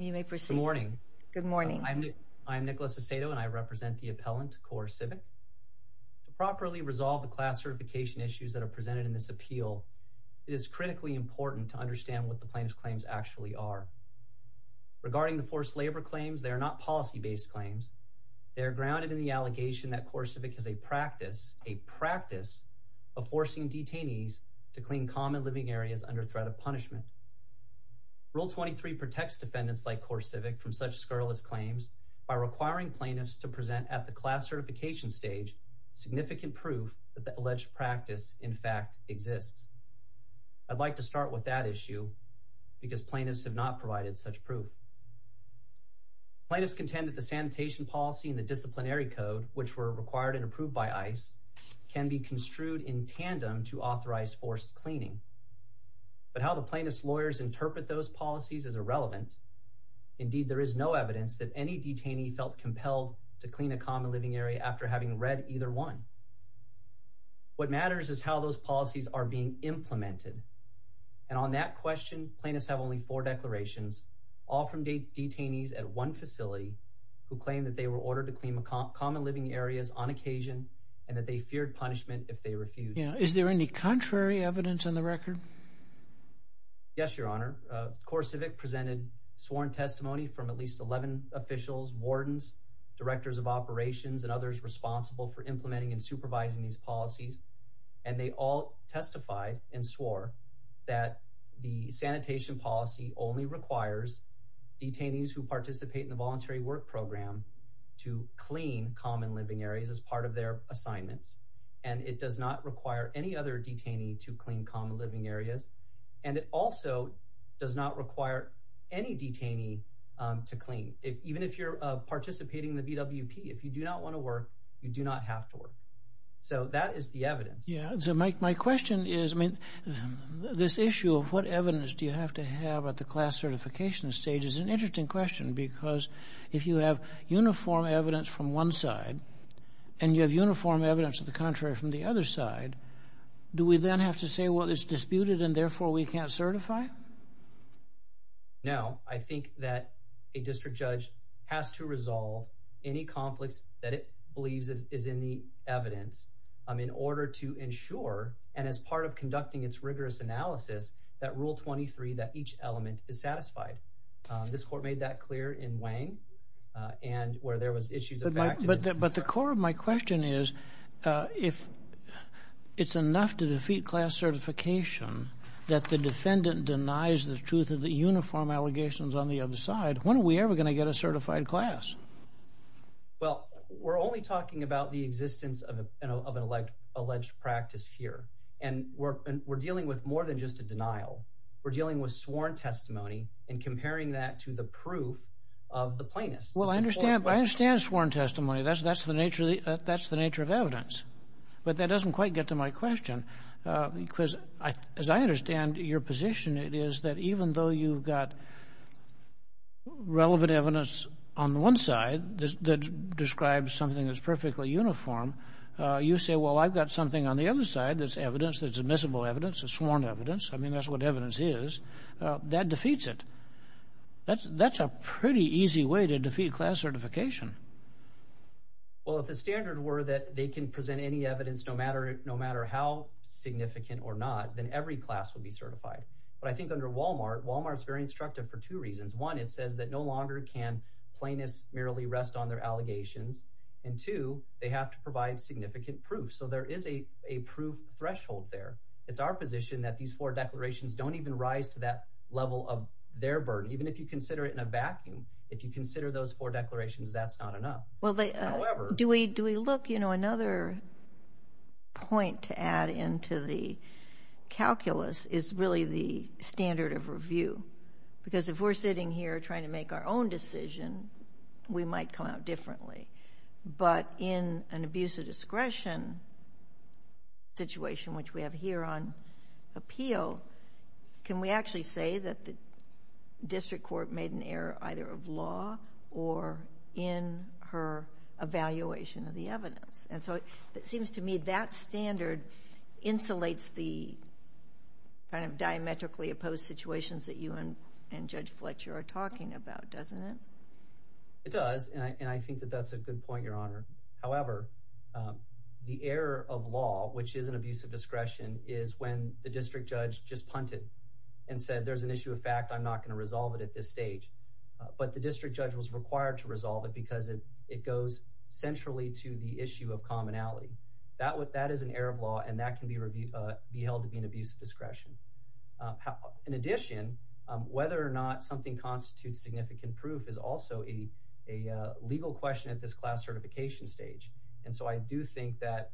You may proceed. Good morning. Good morning. I'm Nicholas Aceto and I represent the appellant CoreCivic. To properly resolve the class certification issues that are presented in this appeal, it is critically important to understand what the plaintiff's claims actually are. Regarding the forced labor claims, they are not policy-based claims. They are grounded in the allegation that CoreCivic is a practice, a practice of forcing detainees to clean common living areas under threat of punishment. Rule 23 protects defendants like CoreCivic from such scurrilous claims by requiring plaintiffs to present at the class certification stage significant proof that the alleged practice in fact exists. I'd like to start with that issue because plaintiffs have not provided such proof. Plaintiffs contend that the sanitation policy and the disciplinary code, which were required and approved by ICE, can be construed in tandem to authorize forced cleaning. But how the plaintiff's lawyers interpret those policies is irrelevant. Indeed, there is no evidence that any detainee felt compelled to clean a common living area after having read either one. What matters is how those policies are being implemented. And on that question, plaintiffs have only four declarations, all from detainees at one facility who claim that they were ordered to clean common living areas on occasion and that they feared punishment if they refused. Is there any contrary evidence in the record? Yes, your honor. CoreCivic presented sworn testimony from at least 11 officials, wardens, directors of operations, and others responsible for implementing and supervising these policies. And they all testified and swore that the sanitation policy only requires detainees who participate in the voluntary work program to clean common living areas as part of their assignments. And it does not require any other detainee to clean common living areas. And it also does not require any detainee to clean. Even if you're participating in the VWP, if you do not want to work, you do not have to work. So that is the evidence. Yeah. So my question is, I mean, this issue of what evidence do you have to have at the class certification stage is an interesting question because if you have uniform evidence from one side and you have uniform evidence of the contrary from the other side, do we then have to say, well, it's disputed and therefore we can't certify? No, I think that a district judge has to resolve any conflicts that it believes is in the evidence in order to ensure, and as part of conducting its rigorous analysis, that rule 23, that each element is satisfied. This court made that clear in Wang and where there was issues. But the core of my question is, if it's enough to defeat class certification that the defendant denies the truth of the uniform allegations on the other side, when are we ever going to get a certified class? Well, we're only talking about the existence of an alleged practice here. And we're dealing with more than just a denial. We're dealing with sworn testimony and comparing that to the proof of the plaintiff. Well, I understand. I understand sworn testimony. That's the nature of evidence. But that doesn't quite get to my question because, as I understand your position, it is that even though you've got relevant evidence on the one side that describes something that's perfectly uniform, you say, well, I've got something on the other side that's evidence, that's admissible evidence, that's sworn evidence. I mean, that's what evidence is. That defeats it. That's a pretty easy way to defeat class certification. Well, if the standard were that they can present any evidence no matter how significant or not, then every class would be certified. But I think under Walmart, Walmart's very instructive for two reasons. One, it says that no longer can plaintiffs merely rest on their allegations. And two, they have to provide significant proof. So there is a threshold there. It's our position that these four declarations don't even rise to that level of their burden. Even if you consider it in a vacuum, if you consider those four declarations, that's not enough. However... Do we look? Another point to add into the calculus is really the standard of review. Because if we're sitting here trying to make our own decision, we might come out differently. But in an abuse of discretion situation, which we have here on appeal, can we actually say that the district court made an error either of law or in her evaluation of the evidence? And so it seems to me that standard insulates the kind of diametrically opposed situations that you and Judge Fletcher are talking about, doesn't it? It does, and I think that that's a good point, Your Honor. However, the error of law, which is an abuse of discretion, is when the district judge just punted and said, there's an issue of fact, I'm not going to resolve it at this stage. But the district judge was required to resolve it because it goes centrally to the issue of commonality. That is an error of law, and that can be held to be an abuse of discretion. In addition, whether or not something constitutes significant proof is also a legal question at this class certification stage. And so I do think that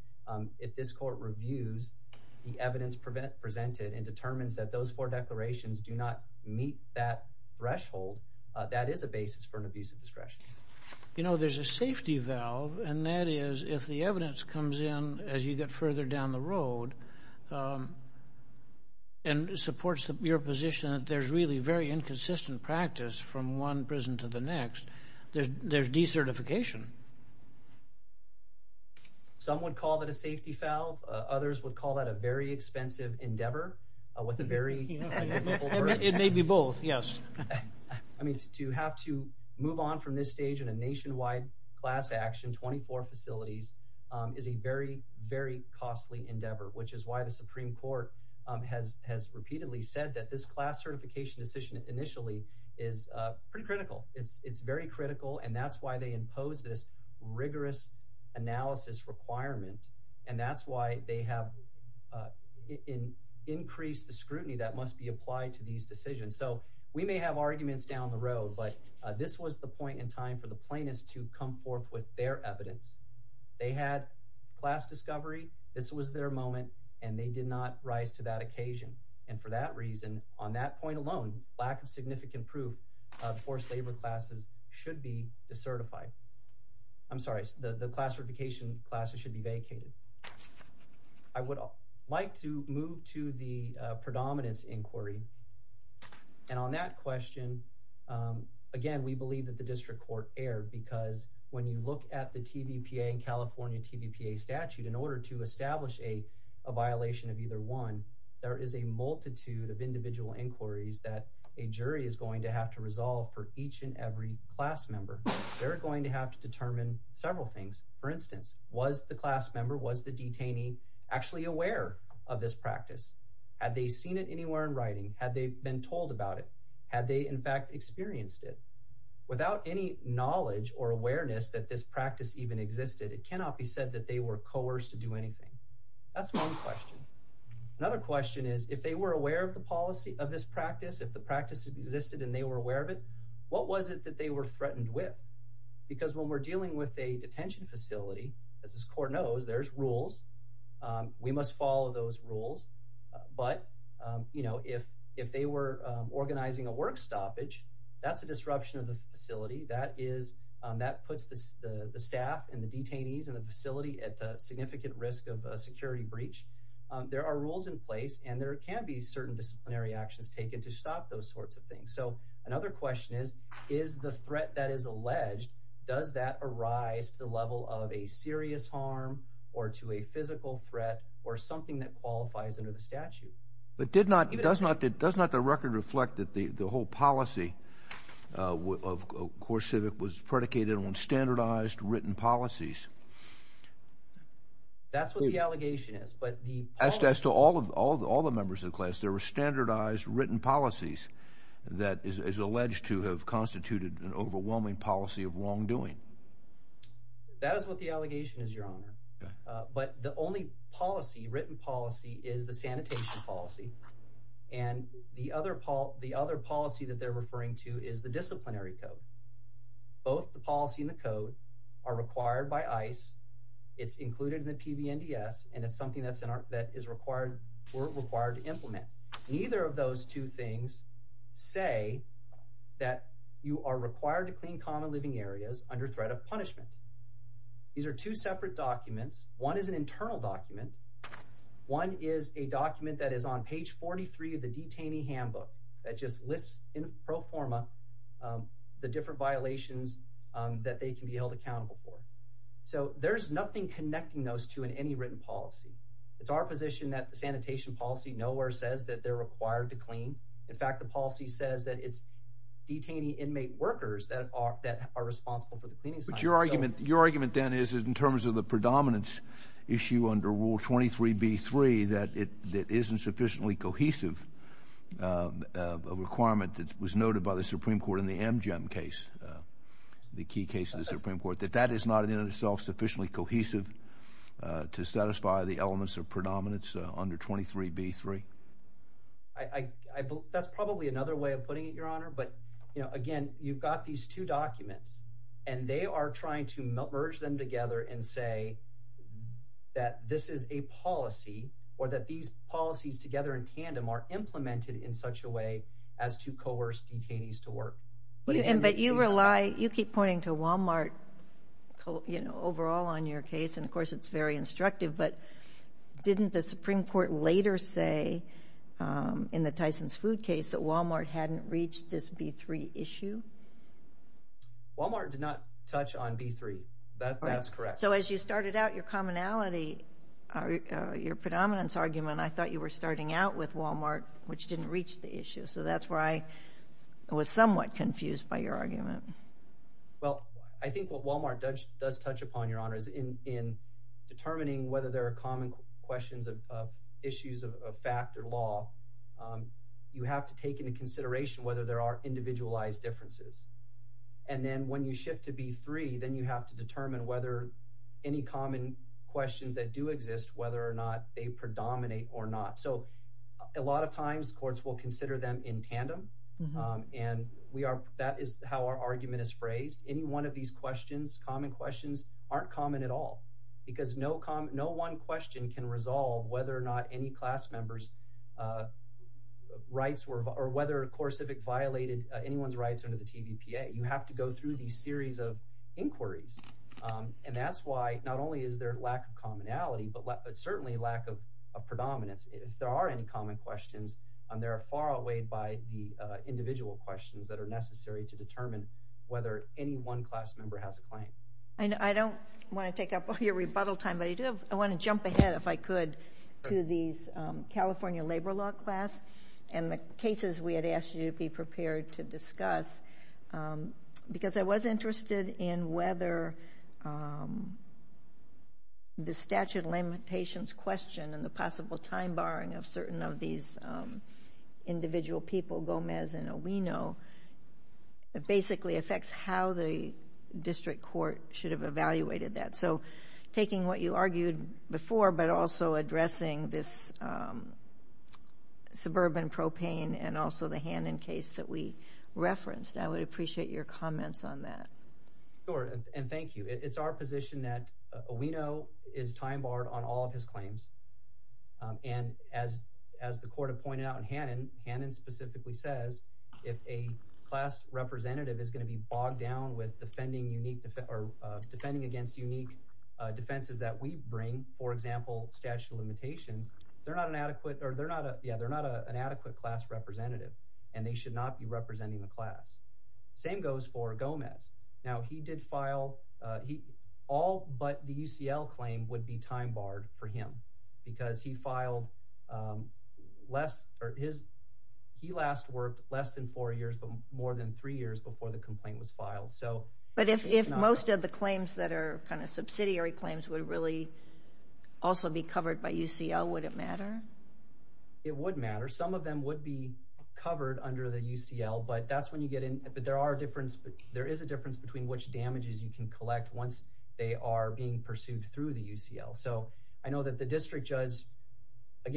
if this court reviews the evidence presented and determines that those four declarations do not meet that threshold, that is a basis for an abuse of discretion. You know, there's a safety valve, and that is if evidence comes in as you get further down the road and supports your position that there's really very inconsistent practice from one prison to the next, there's decertification. Some would call that a safety valve. Others would call that a very expensive endeavor. It may be both, yes. I mean, to have to move on from this stage in a nationwide class action, 24 facilities, is a very, very costly endeavor, which is why the Supreme Court has repeatedly said that this class certification decision initially is pretty critical. It's very critical, and that's why they impose this rigorous analysis requirement. And that's why they have increased the scrutiny that must be applied to these decisions. So we may have arguments down the road, but this was the point in time for the plaintiffs to come forth with their evidence. They had class discovery. This was their moment, and they did not rise to that occasion. And for that reason, on that point alone, lack of significant proof of forced labor classes should be decertified. I'm sorry, the class certification classes should be vacated. I would like to move to the predominance inquiry. And on that question, again, we believe that the district court erred because when you look at the TVPA and California TVPA statute, in order to establish a violation of either one, there is a multitude of individual inquiries that a jury is going to have to resolve for each and every class member. They're going to have to determine several things. For instance, was the class member, was the detainee actually aware of this practice? Had they seen it anywhere in writing? Had they been told about it? Had they, in fact, experienced it? Without any knowledge or awareness that this practice even existed, it cannot be said that they were coerced to do anything. That's one question. Another question is, if they were aware of the policy of this practice, if the practice existed and they were aware of it, what was it they were threatened with? Because when we're dealing with a detention facility, as this court knows, there's rules. We must follow those rules. But, you know, if they were organizing a work stoppage, that's a disruption of the facility. That puts the staff and the detainees in the facility at significant risk of a security breach. There are rules in place and there can be certain that is alleged, does that arise to the level of a serious harm or to a physical threat or something that qualifies under the statute. But did not, does not, does not the record reflect that the whole policy of CoreCivic was predicated on standardized written policies? That's what the allegation is, but the... As to all of, all the members of the class, there were standardized written policies that is alleged to have constituted an overwhelming policy of wrongdoing. That is what the allegation is, Your Honor. But the only policy, written policy, is the sanitation policy. And the other, the other policy that they're referring to is the disciplinary code. Both the policy and the code are required by ICE. It's included in the implement. Neither of those two things say that you are required to clean common living areas under threat of punishment. These are two separate documents. One is an internal document. One is a document that is on page 43 of the detainee handbook that just lists in pro forma the different violations that they can be held accountable for. So there's nothing connecting those two in any written policy. It's our position that the sanitation policy nowhere says that they're required to clean. In fact, the policy says that it's detainee inmate workers that are, that are responsible for the cleaning. But your argument, your argument then is, in terms of the predominance issue under Rule 23b-3, that it, that isn't sufficiently cohesive a requirement that was noted by the Supreme Court in the Amgem case, the key case of the Supreme Court, that that is not in and of itself sufficiently cohesive to satisfy the elements of predominance under 23b-3? I, I, I believe that's probably another way of putting it, Your Honor. But, you know, again, you've got these two documents and they are trying to merge them together and say that this is a policy or that these policies together in tandem are implemented in such a way as to coerce detainees to work. But you rely, you keep pointing to Walmart, you know, overall on your case, and of course it's very instructive, but didn't the Supreme Court later say in the Tyson's Food case that Walmart hadn't reached this b-3 issue? Walmart did not touch on b-3. That, that's correct. So as you started out your commonality, your predominance argument, I thought you were starting out with Walmart, which didn't reach the issue. So that's where I was somewhat confused by your argument. Well, I think what Walmart does, does touch upon, Your Honor, is in, in determining whether there are common questions of, of issues of fact or law, you have to take into consideration whether there are individualized differences. And then when you shift to b-3, then you have to determine whether any common questions that do exist, whether or not they predominate or not. So a lot of times courts will consider them in tandem. And we are, that is how our argument is phrased. Any one of these questions, common questions, aren't common at all, because no common, no one question can resolve whether or not any class members rights were, or whether CoreCivic violated anyone's rights under the TVPA. You have to go through these series of inquiries. And that's why not only is there lack of commonality, but certainly lack of, of predominance. If there are any common questions, there are far away by the necessary to determine whether any one class member has a claim. I know, I don't want to take up all your rebuttal time, but I do have, I want to jump ahead, if I could, to these California labor law class and the cases we had asked you to be prepared to discuss. Because I was interested in whether the statute of limitations question and the possible time barring of certain of these individual people, Gomez and Owino, basically affects how the district court should have evaluated that. So, taking what you argued before, but also addressing this suburban propane and also the Hannon case that we referenced, I would appreciate your comments on that. Sure, and thank you. It's our position that Owino is time barred on all of his claims. And as, as the court had out in Hannon, Hannon specifically says, if a class representative is going to be bogged down with defending unique, or defending against unique defenses that we bring, for example, statute of limitations, they're not an adequate or they're not, yeah, they're not an adequate class representative and they should not be representing the class. Same goes for Gomez. Now he did file, he, all but the UCL claim would be time barred for him because he filed less, or his, he last worked less than four years, but more than three years before the complaint was filed, so. But if, if most of the claims that are kind of subsidiary claims would really also be covered by UCL, would it matter? It would matter. Some of them would be covered under the UCL, but that's when you get in, but there are difference, there is a difference between which damages you can collect once they are being pursued through the UCL. So, I know that the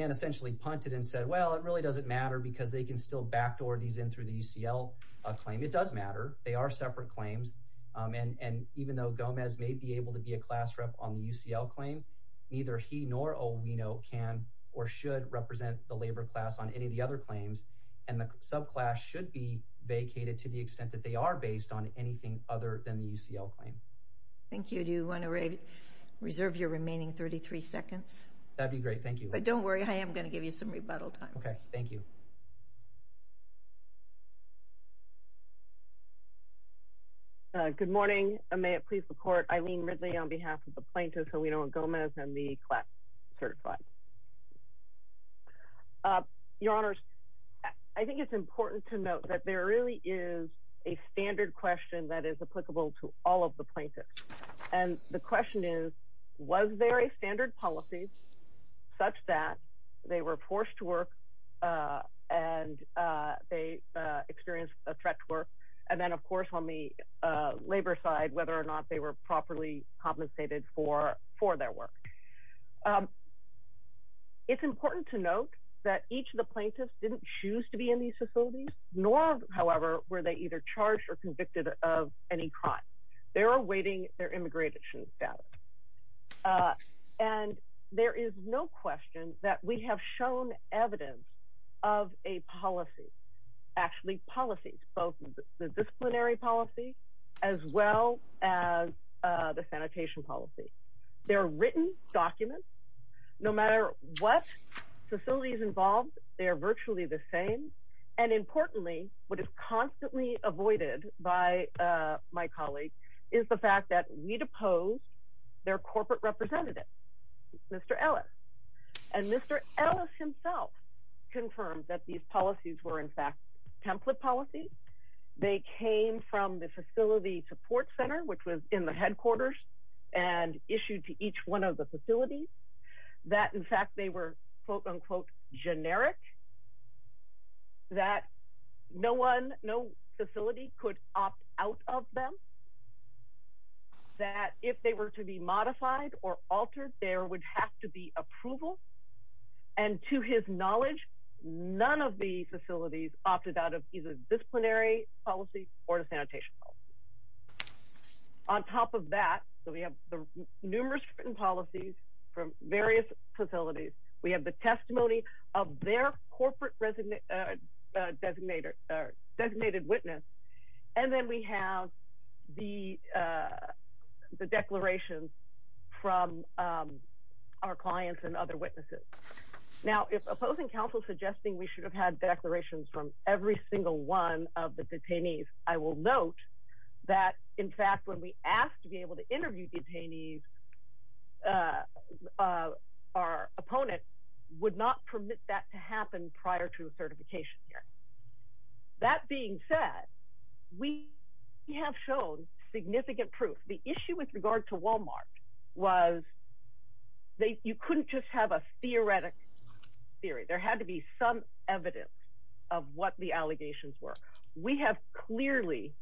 essentially punted and said, well, it really doesn't matter because they can still backdoor these in through the UCL claim. It does matter. They are separate claims. And, and even though Gomez may be able to be a class rep on the UCL claim, neither he nor Owino can or should represent the labor class on any of the other claims. And the subclass should be vacated to the extent that they are based on anything other than the UCL claim. Thank you. Do you want to reserve your remaining 33 seconds? That'd be great. Thank you. But don't worry, I am going to give you some rebuttal time. Okay. Thank you. Good morning. May it please the court, Eileen Ridley on behalf of the plaintiffs, Owino and Gomez and the class certified. Your honors, I think it's important to note that there really is a standard question that is question is, was there a standard policy such that they were forced to work and they experienced a threat to work. And then of course, on the labor side, whether or not they were properly compensated for, for their work. It's important to note that each of the plaintiffs didn't choose to be in these facilities, nor however, were they either charged or convicted of any crime. They're awaiting their immigration status. And there is no question that we have shown evidence of a policy, actually policies, both the disciplinary policy, as well as the sanitation policy. They're written documents, no matter what facilities involved, they're virtually the same. And importantly, what is constantly avoided by my colleague is the fact that we deposed their corporate representative, Mr. Ellis, and Mr. Ellis himself confirmed that these policies were in fact, template policies. They came from the facility support center, which was in the headquarters and issued to each one of the facilities that in fact, they were quote unquote, generic, that no one, no facility could opt out of them. That if they were to be modified or altered, there would have to be approval. And to his knowledge, none of the facilities opted out of either disciplinary policy or the sanitation policy. On top of that, so we have the numerous written policies from various facilities. We have the testimony of their corporate designated witness. And then we have the declarations from our clients and other witnesses. Now, if opposing counsel suggesting we should have had declarations from every single one of the detainees, I will note that in fact, when we would not permit that to happen prior to the certification here. That being said, we have shown significant proof. The issue with regard to Walmart was that you couldn't just have a theoretic theory. There had to be some evidence of what the allegations were. We have clearly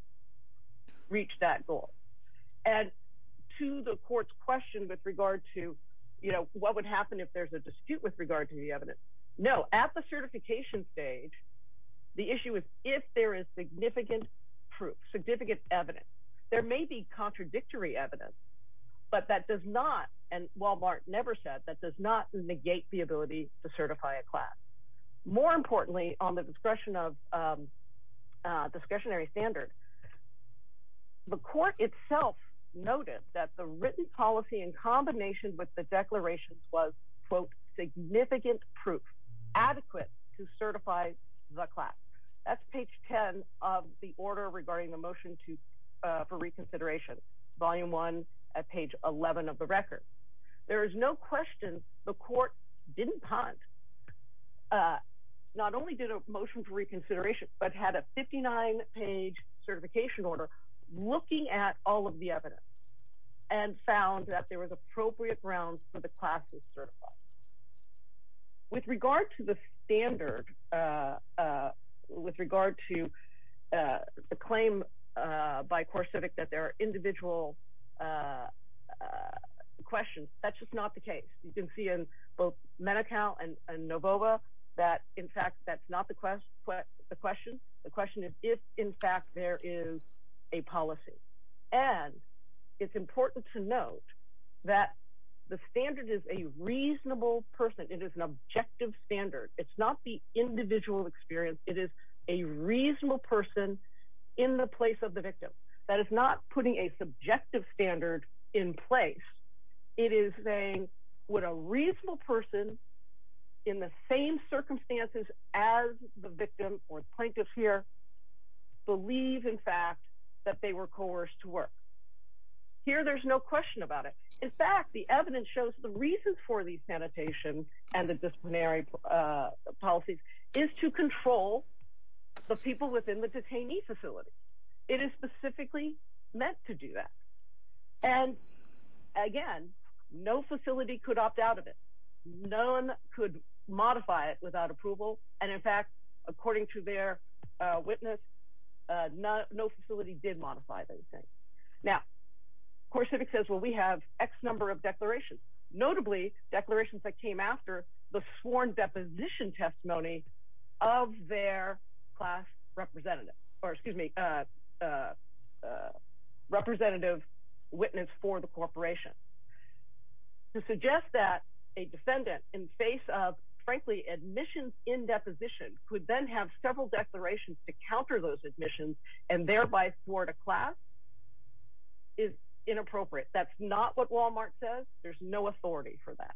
reached that goal. And to the court's question with regard to, you know, what would happen if there's a dispute with regard to the evidence? No, at the certification stage, the issue is if there is significant proof, significant evidence. There may be contradictory evidence, but that does not, and Walmart never said that does not negate the ability to certify a class. More importantly, on the discretionary standard, the court itself noted that the written policy in combination with the declarations was, quote, significant proof adequate to certify the class. That's page 10 of the order regarding the motion for reconsideration, volume one at page 11 of the record. There is no question the court didn't punt, not only did a motion for reconsideration, but had a 59 page certification order looking at all of the evidence and found that there was appropriate grounds for the class to certify. With regard to the standard, with regard to the claim by CoreCivic that there are individual questions, that's just not the case. You can see in both Medi-Cal and Novova that, in fact, that's not the question. The is a policy, and it's important to note that the standard is a reasonable person. It is an objective standard. It's not the individual experience. It is a reasonable person in the place of the victim. That is not putting a subjective standard in place. It is saying, would a reasonable person in the same circumstances as the victim or plaintiff here believe, in fact, that they were coerced to work? Here, there's no question about it. In fact, the evidence shows the reason for these sanitation and the disciplinary policies is to control the people within the detainee facility. It is specifically meant to do that. Again, no facility could opt out of it. No one could modify it without approval. In fact, according to their witness, no facility did modify those things. CoreCivic says, well, we have X number of declarations, notably declarations that came after the sworn deposition testimony of their class representative or, excuse me, a representative witness for the corporation. To suggest that a defendant in face of, frankly, admissions in deposition could then have several declarations to counter those admissions and thereby thwart a class is inappropriate. That's not what Walmart says. There's no authority for that.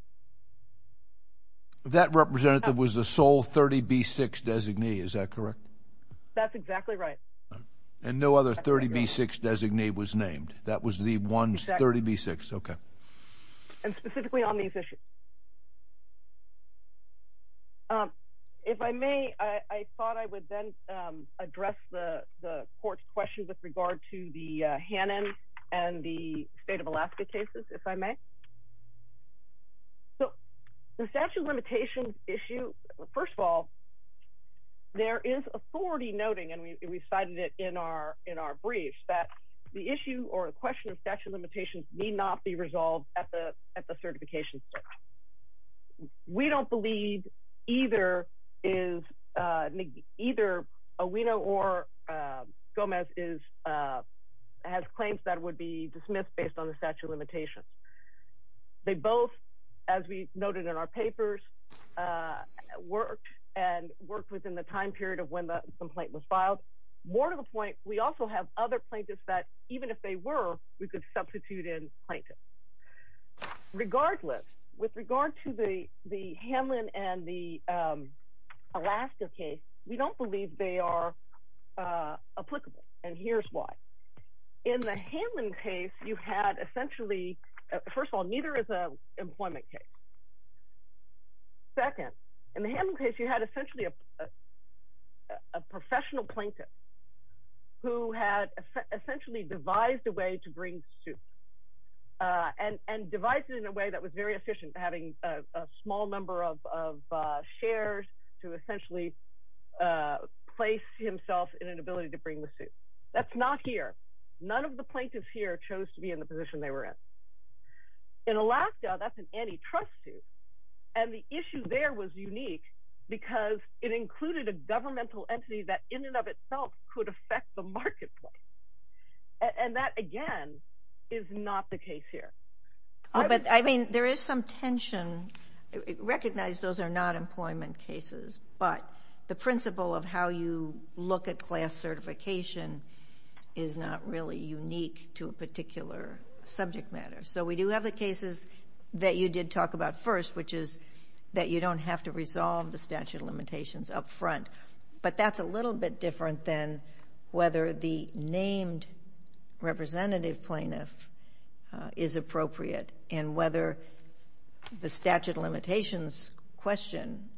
That representative was the sole 30B6 designee. Is that correct? That's exactly right. And no other 30B6 designee was named. That was the one 30B6. Okay. And specifically on these issues. If I may, I thought I would then address the court's question with regard to the Hannon and the state of Alaska cases, if I may. So the statute of limitations issue, first of all, there is authority noting, and we cited it in our brief, that the issue or the question of statute of limitations need not be resolved at the certification. We don't believe either Owino or Gomez has claims that would be dismissed based on the statute of limitations. They both, as we noted in our papers, worked and worked within the time period of when the complaint was filed. More to the point, we also have other plaintiffs that even if they were, we could substitute in plaintiffs. Regardless, with regard to the Hamlin and the Alaska case, we don't believe they are applicable. And here's why. In the Hamlin case, you had essentially, first of all, neither is an employment case. Second, in the Hamlin case, you had essentially a professional plaintiff who had essentially devised a way to bring the suit. And devised it in a way that was very efficient, having a small number of shares to essentially place himself in an ability to bring the suit. That's not here. In Alaska, that's an antitrust suit. And the issue there was unique because it included a governmental entity that in and of itself could affect the marketplace. And that, again, is not the case here. I mean, there is some tension. Recognize those are not employment cases. But the principle of how you look at class certification is not really unique to a particular subject matter. So we do have the cases that you did talk about first, which is that you don't have to resolve the statute of limitations up front. But that's a little bit different than whether the named representative plaintiff is appropriate and whether the statute of limitations question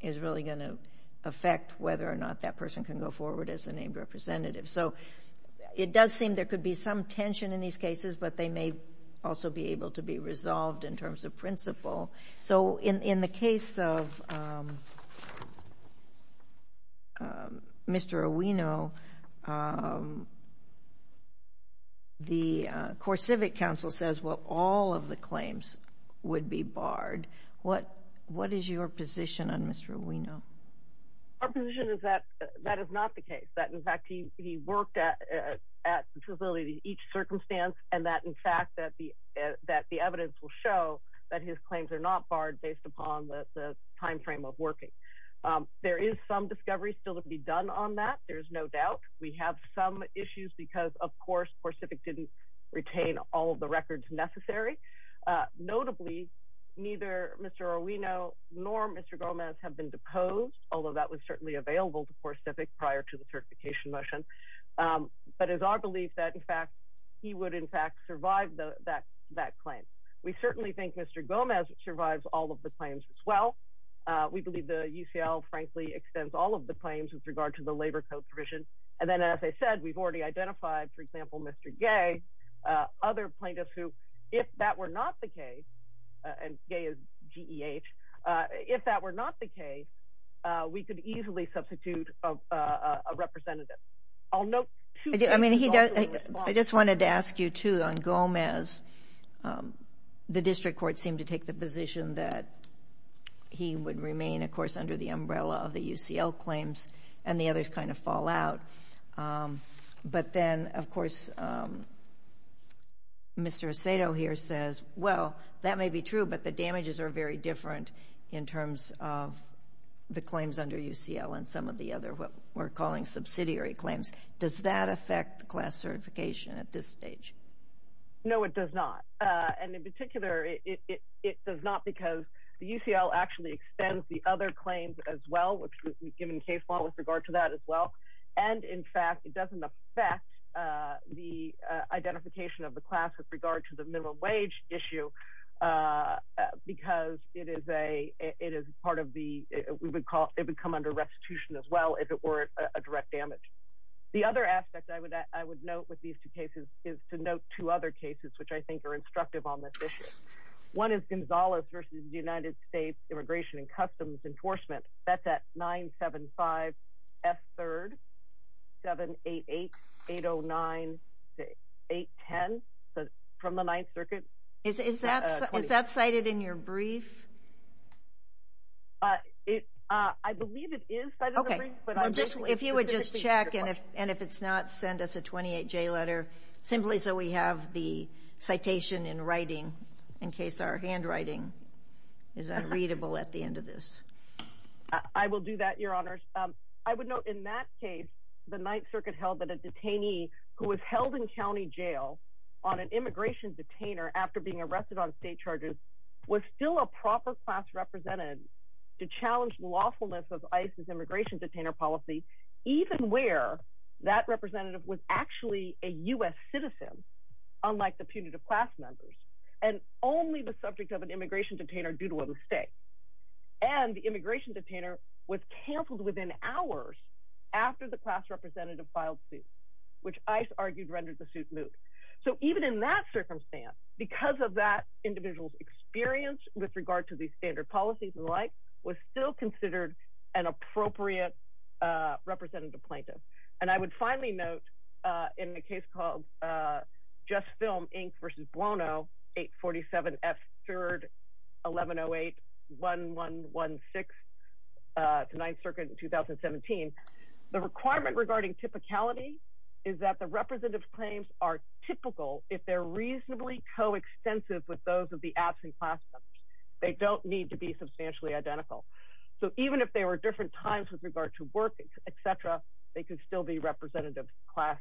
is really going to affect whether or not that person can go forward as a named representative. So it does seem there could be some tension in these cases, but they may also be able to be resolved in terms of principle. So in the case of Mr. Owino, the CoreCivic Council says, well, all of the claims would be barred. What is your position on Mr. Owino? Our position is that that is not the case, that, in fact, he worked at the facility in each circumstance and that, in fact, that the evidence will show that his claims are not barred based upon the time frame of working. There is some discovery still to be done on that, there's no doubt. We have some issues because, of course, CoreCivic didn't retain all of the records necessary. Notably, neither Mr. Owino nor Mr. Gomez have been deposed, although that was certainly available to CoreCivic prior to the certification motion. But it's our belief that, in fact, he would, in fact, survive that claim. We certainly think Mr. Gomez survives all of the claims as well. We believe the UCL, frankly, extends all of the claims with regard to the labor code provision. And then, as I said, we've already identified, for example, Mr. Gay, other plaintiffs who, if that were not the case, and Gay is G-E-H, if that were not the case, we could easily substitute a representative. I'll note two things. I just wanted to ask you, too, on Gomez, the district court seemed to take the position that he would remain, of course, under the umbrella of the UCL claims and the UCL claims. Of course, Mr. Asado here says, well, that may be true, but the damages are very different in terms of the claims under UCL and some of the other what we're calling subsidiary claims. Does that affect the class certification at this stage? No, it does not. And in particular, it does not because the UCL actually extends the other claims as well, which we've given case law with regard to that as well. And in fact, it doesn't affect the identification of the class with regard to the minimum wage issue because it is part of the, it would come under restitution as well if it were a direct damage. The other aspect I would note with these two cases is to note two other cases which I think are instructive on this issue. One is Gonzalez versus the United States Immigration and Customs Enforcement. That's at 975F3rd 788809-810 from the Ninth Circuit. Is that cited in your brief? I believe it is. If you would just check and if it's not, send us a 28-J letter simply so we have the citation in writing in case our handwriting is unreadable at the end of this. I will do that, Your Honors. I would note in that case, the Ninth Circuit held that a detainee who was held in county jail on an immigration detainer after being arrested on state charges was still a proper class representative to challenge lawfulness of ICE's immigration detainer policy, even where that representative was actually a U.S. detainer due to a mistake. And the immigration detainer was canceled within hours after the class representative filed suit, which ICE argued rendered the suit moot. So even in that circumstance, because of that individual's experience with regard to these standard policies and the like, was still considered an appropriate representative plaintiff. And I would finally note in a case called Just Film, Inc. v. Buono, 847 F. 3rd, 1108-1116, Ninth Circuit in 2017, the requirement regarding typicality is that the representative claims are typical if they're reasonably coextensive with those of the absent class members. They don't need to be substantially identical. So even if they were different times with regard to work, et cetera, they can still be representative class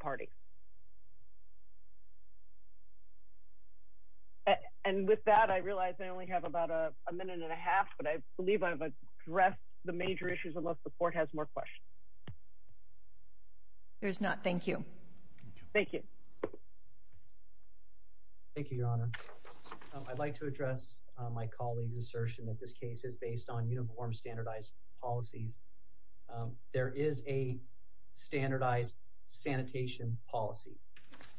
party. And with that, I realize I only have about a minute and a half, but I believe I've addressed the major issues, unless the court has more questions. There's not. Thank you. Thank you. Thank you, Your Honor. I'd like to address my colleague's assertion that this case is based on standardized policies. There is a standardized sanitation policy.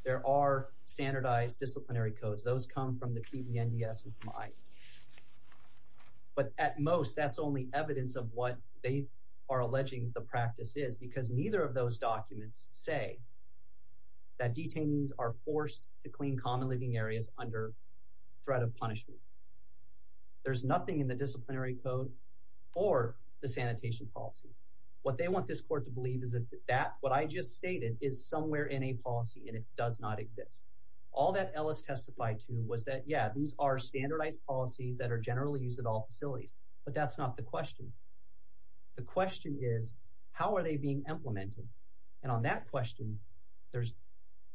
There are standardized disciplinary codes. Those come from the PDNDS and from ICE. But at most, that's only evidence of what they are alleging the practice is, because neither of those documents say that detainees are forced to clean common living areas under threat of punishment. There's nothing in the disciplinary code or the sanitation policies. What they want this court to believe is that what I just stated is somewhere in a policy and it does not exist. All that Ellis testified to was that, yeah, these are standardized policies that are generally used at all facilities, but that's not the question. The question is, how are they being implemented? And on that question, there's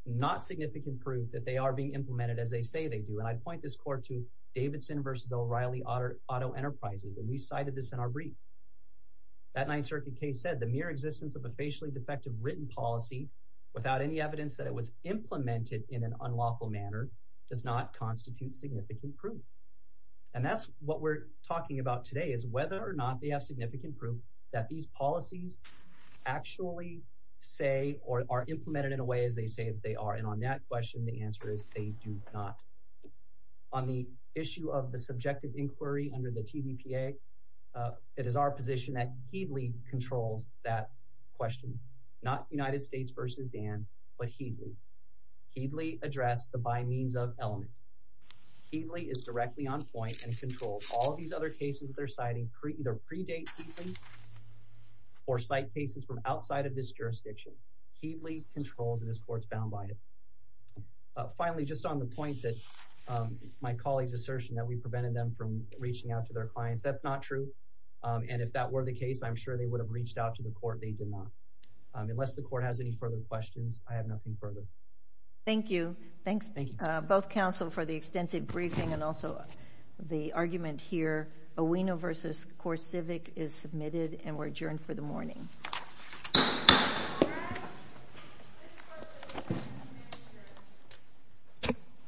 not significant proof that they are being implemented as they say they do. And I point this court to Davidson versus O'Reilly Auto Enterprises, and we cited this in our brief. That Ninth Circuit case said, the mere existence of a facially defective written policy without any evidence that it was implemented in an unlawful manner does not constitute significant proof. And that's what we're talking about today, is whether or not they have significant proof that these policies actually say or are implemented in as they say that they are. And on that question, the answer is they do not. On the issue of the subjective inquiry under the TVPA, it is our position that Headley controls that question, not United States versus Dan, but Headley. Headley addressed the by means of element. Headley is directly on point and controls all of these other cases that they're citing either predate Headley or cite cases from outside of this jurisdiction. Headley controls and this court's bound by it. Finally, just on the point that my colleague's assertion that we prevented them from reaching out to their clients, that's not true. And if that were the case, I'm sure they would have reached out to the court. They did not. Unless the court has any further questions, I have nothing further. Thank you. Thanks both counsel for the extensive briefing and also the argument here. AUENO versus CoreCivic is submitted and we're adjourned for the morning.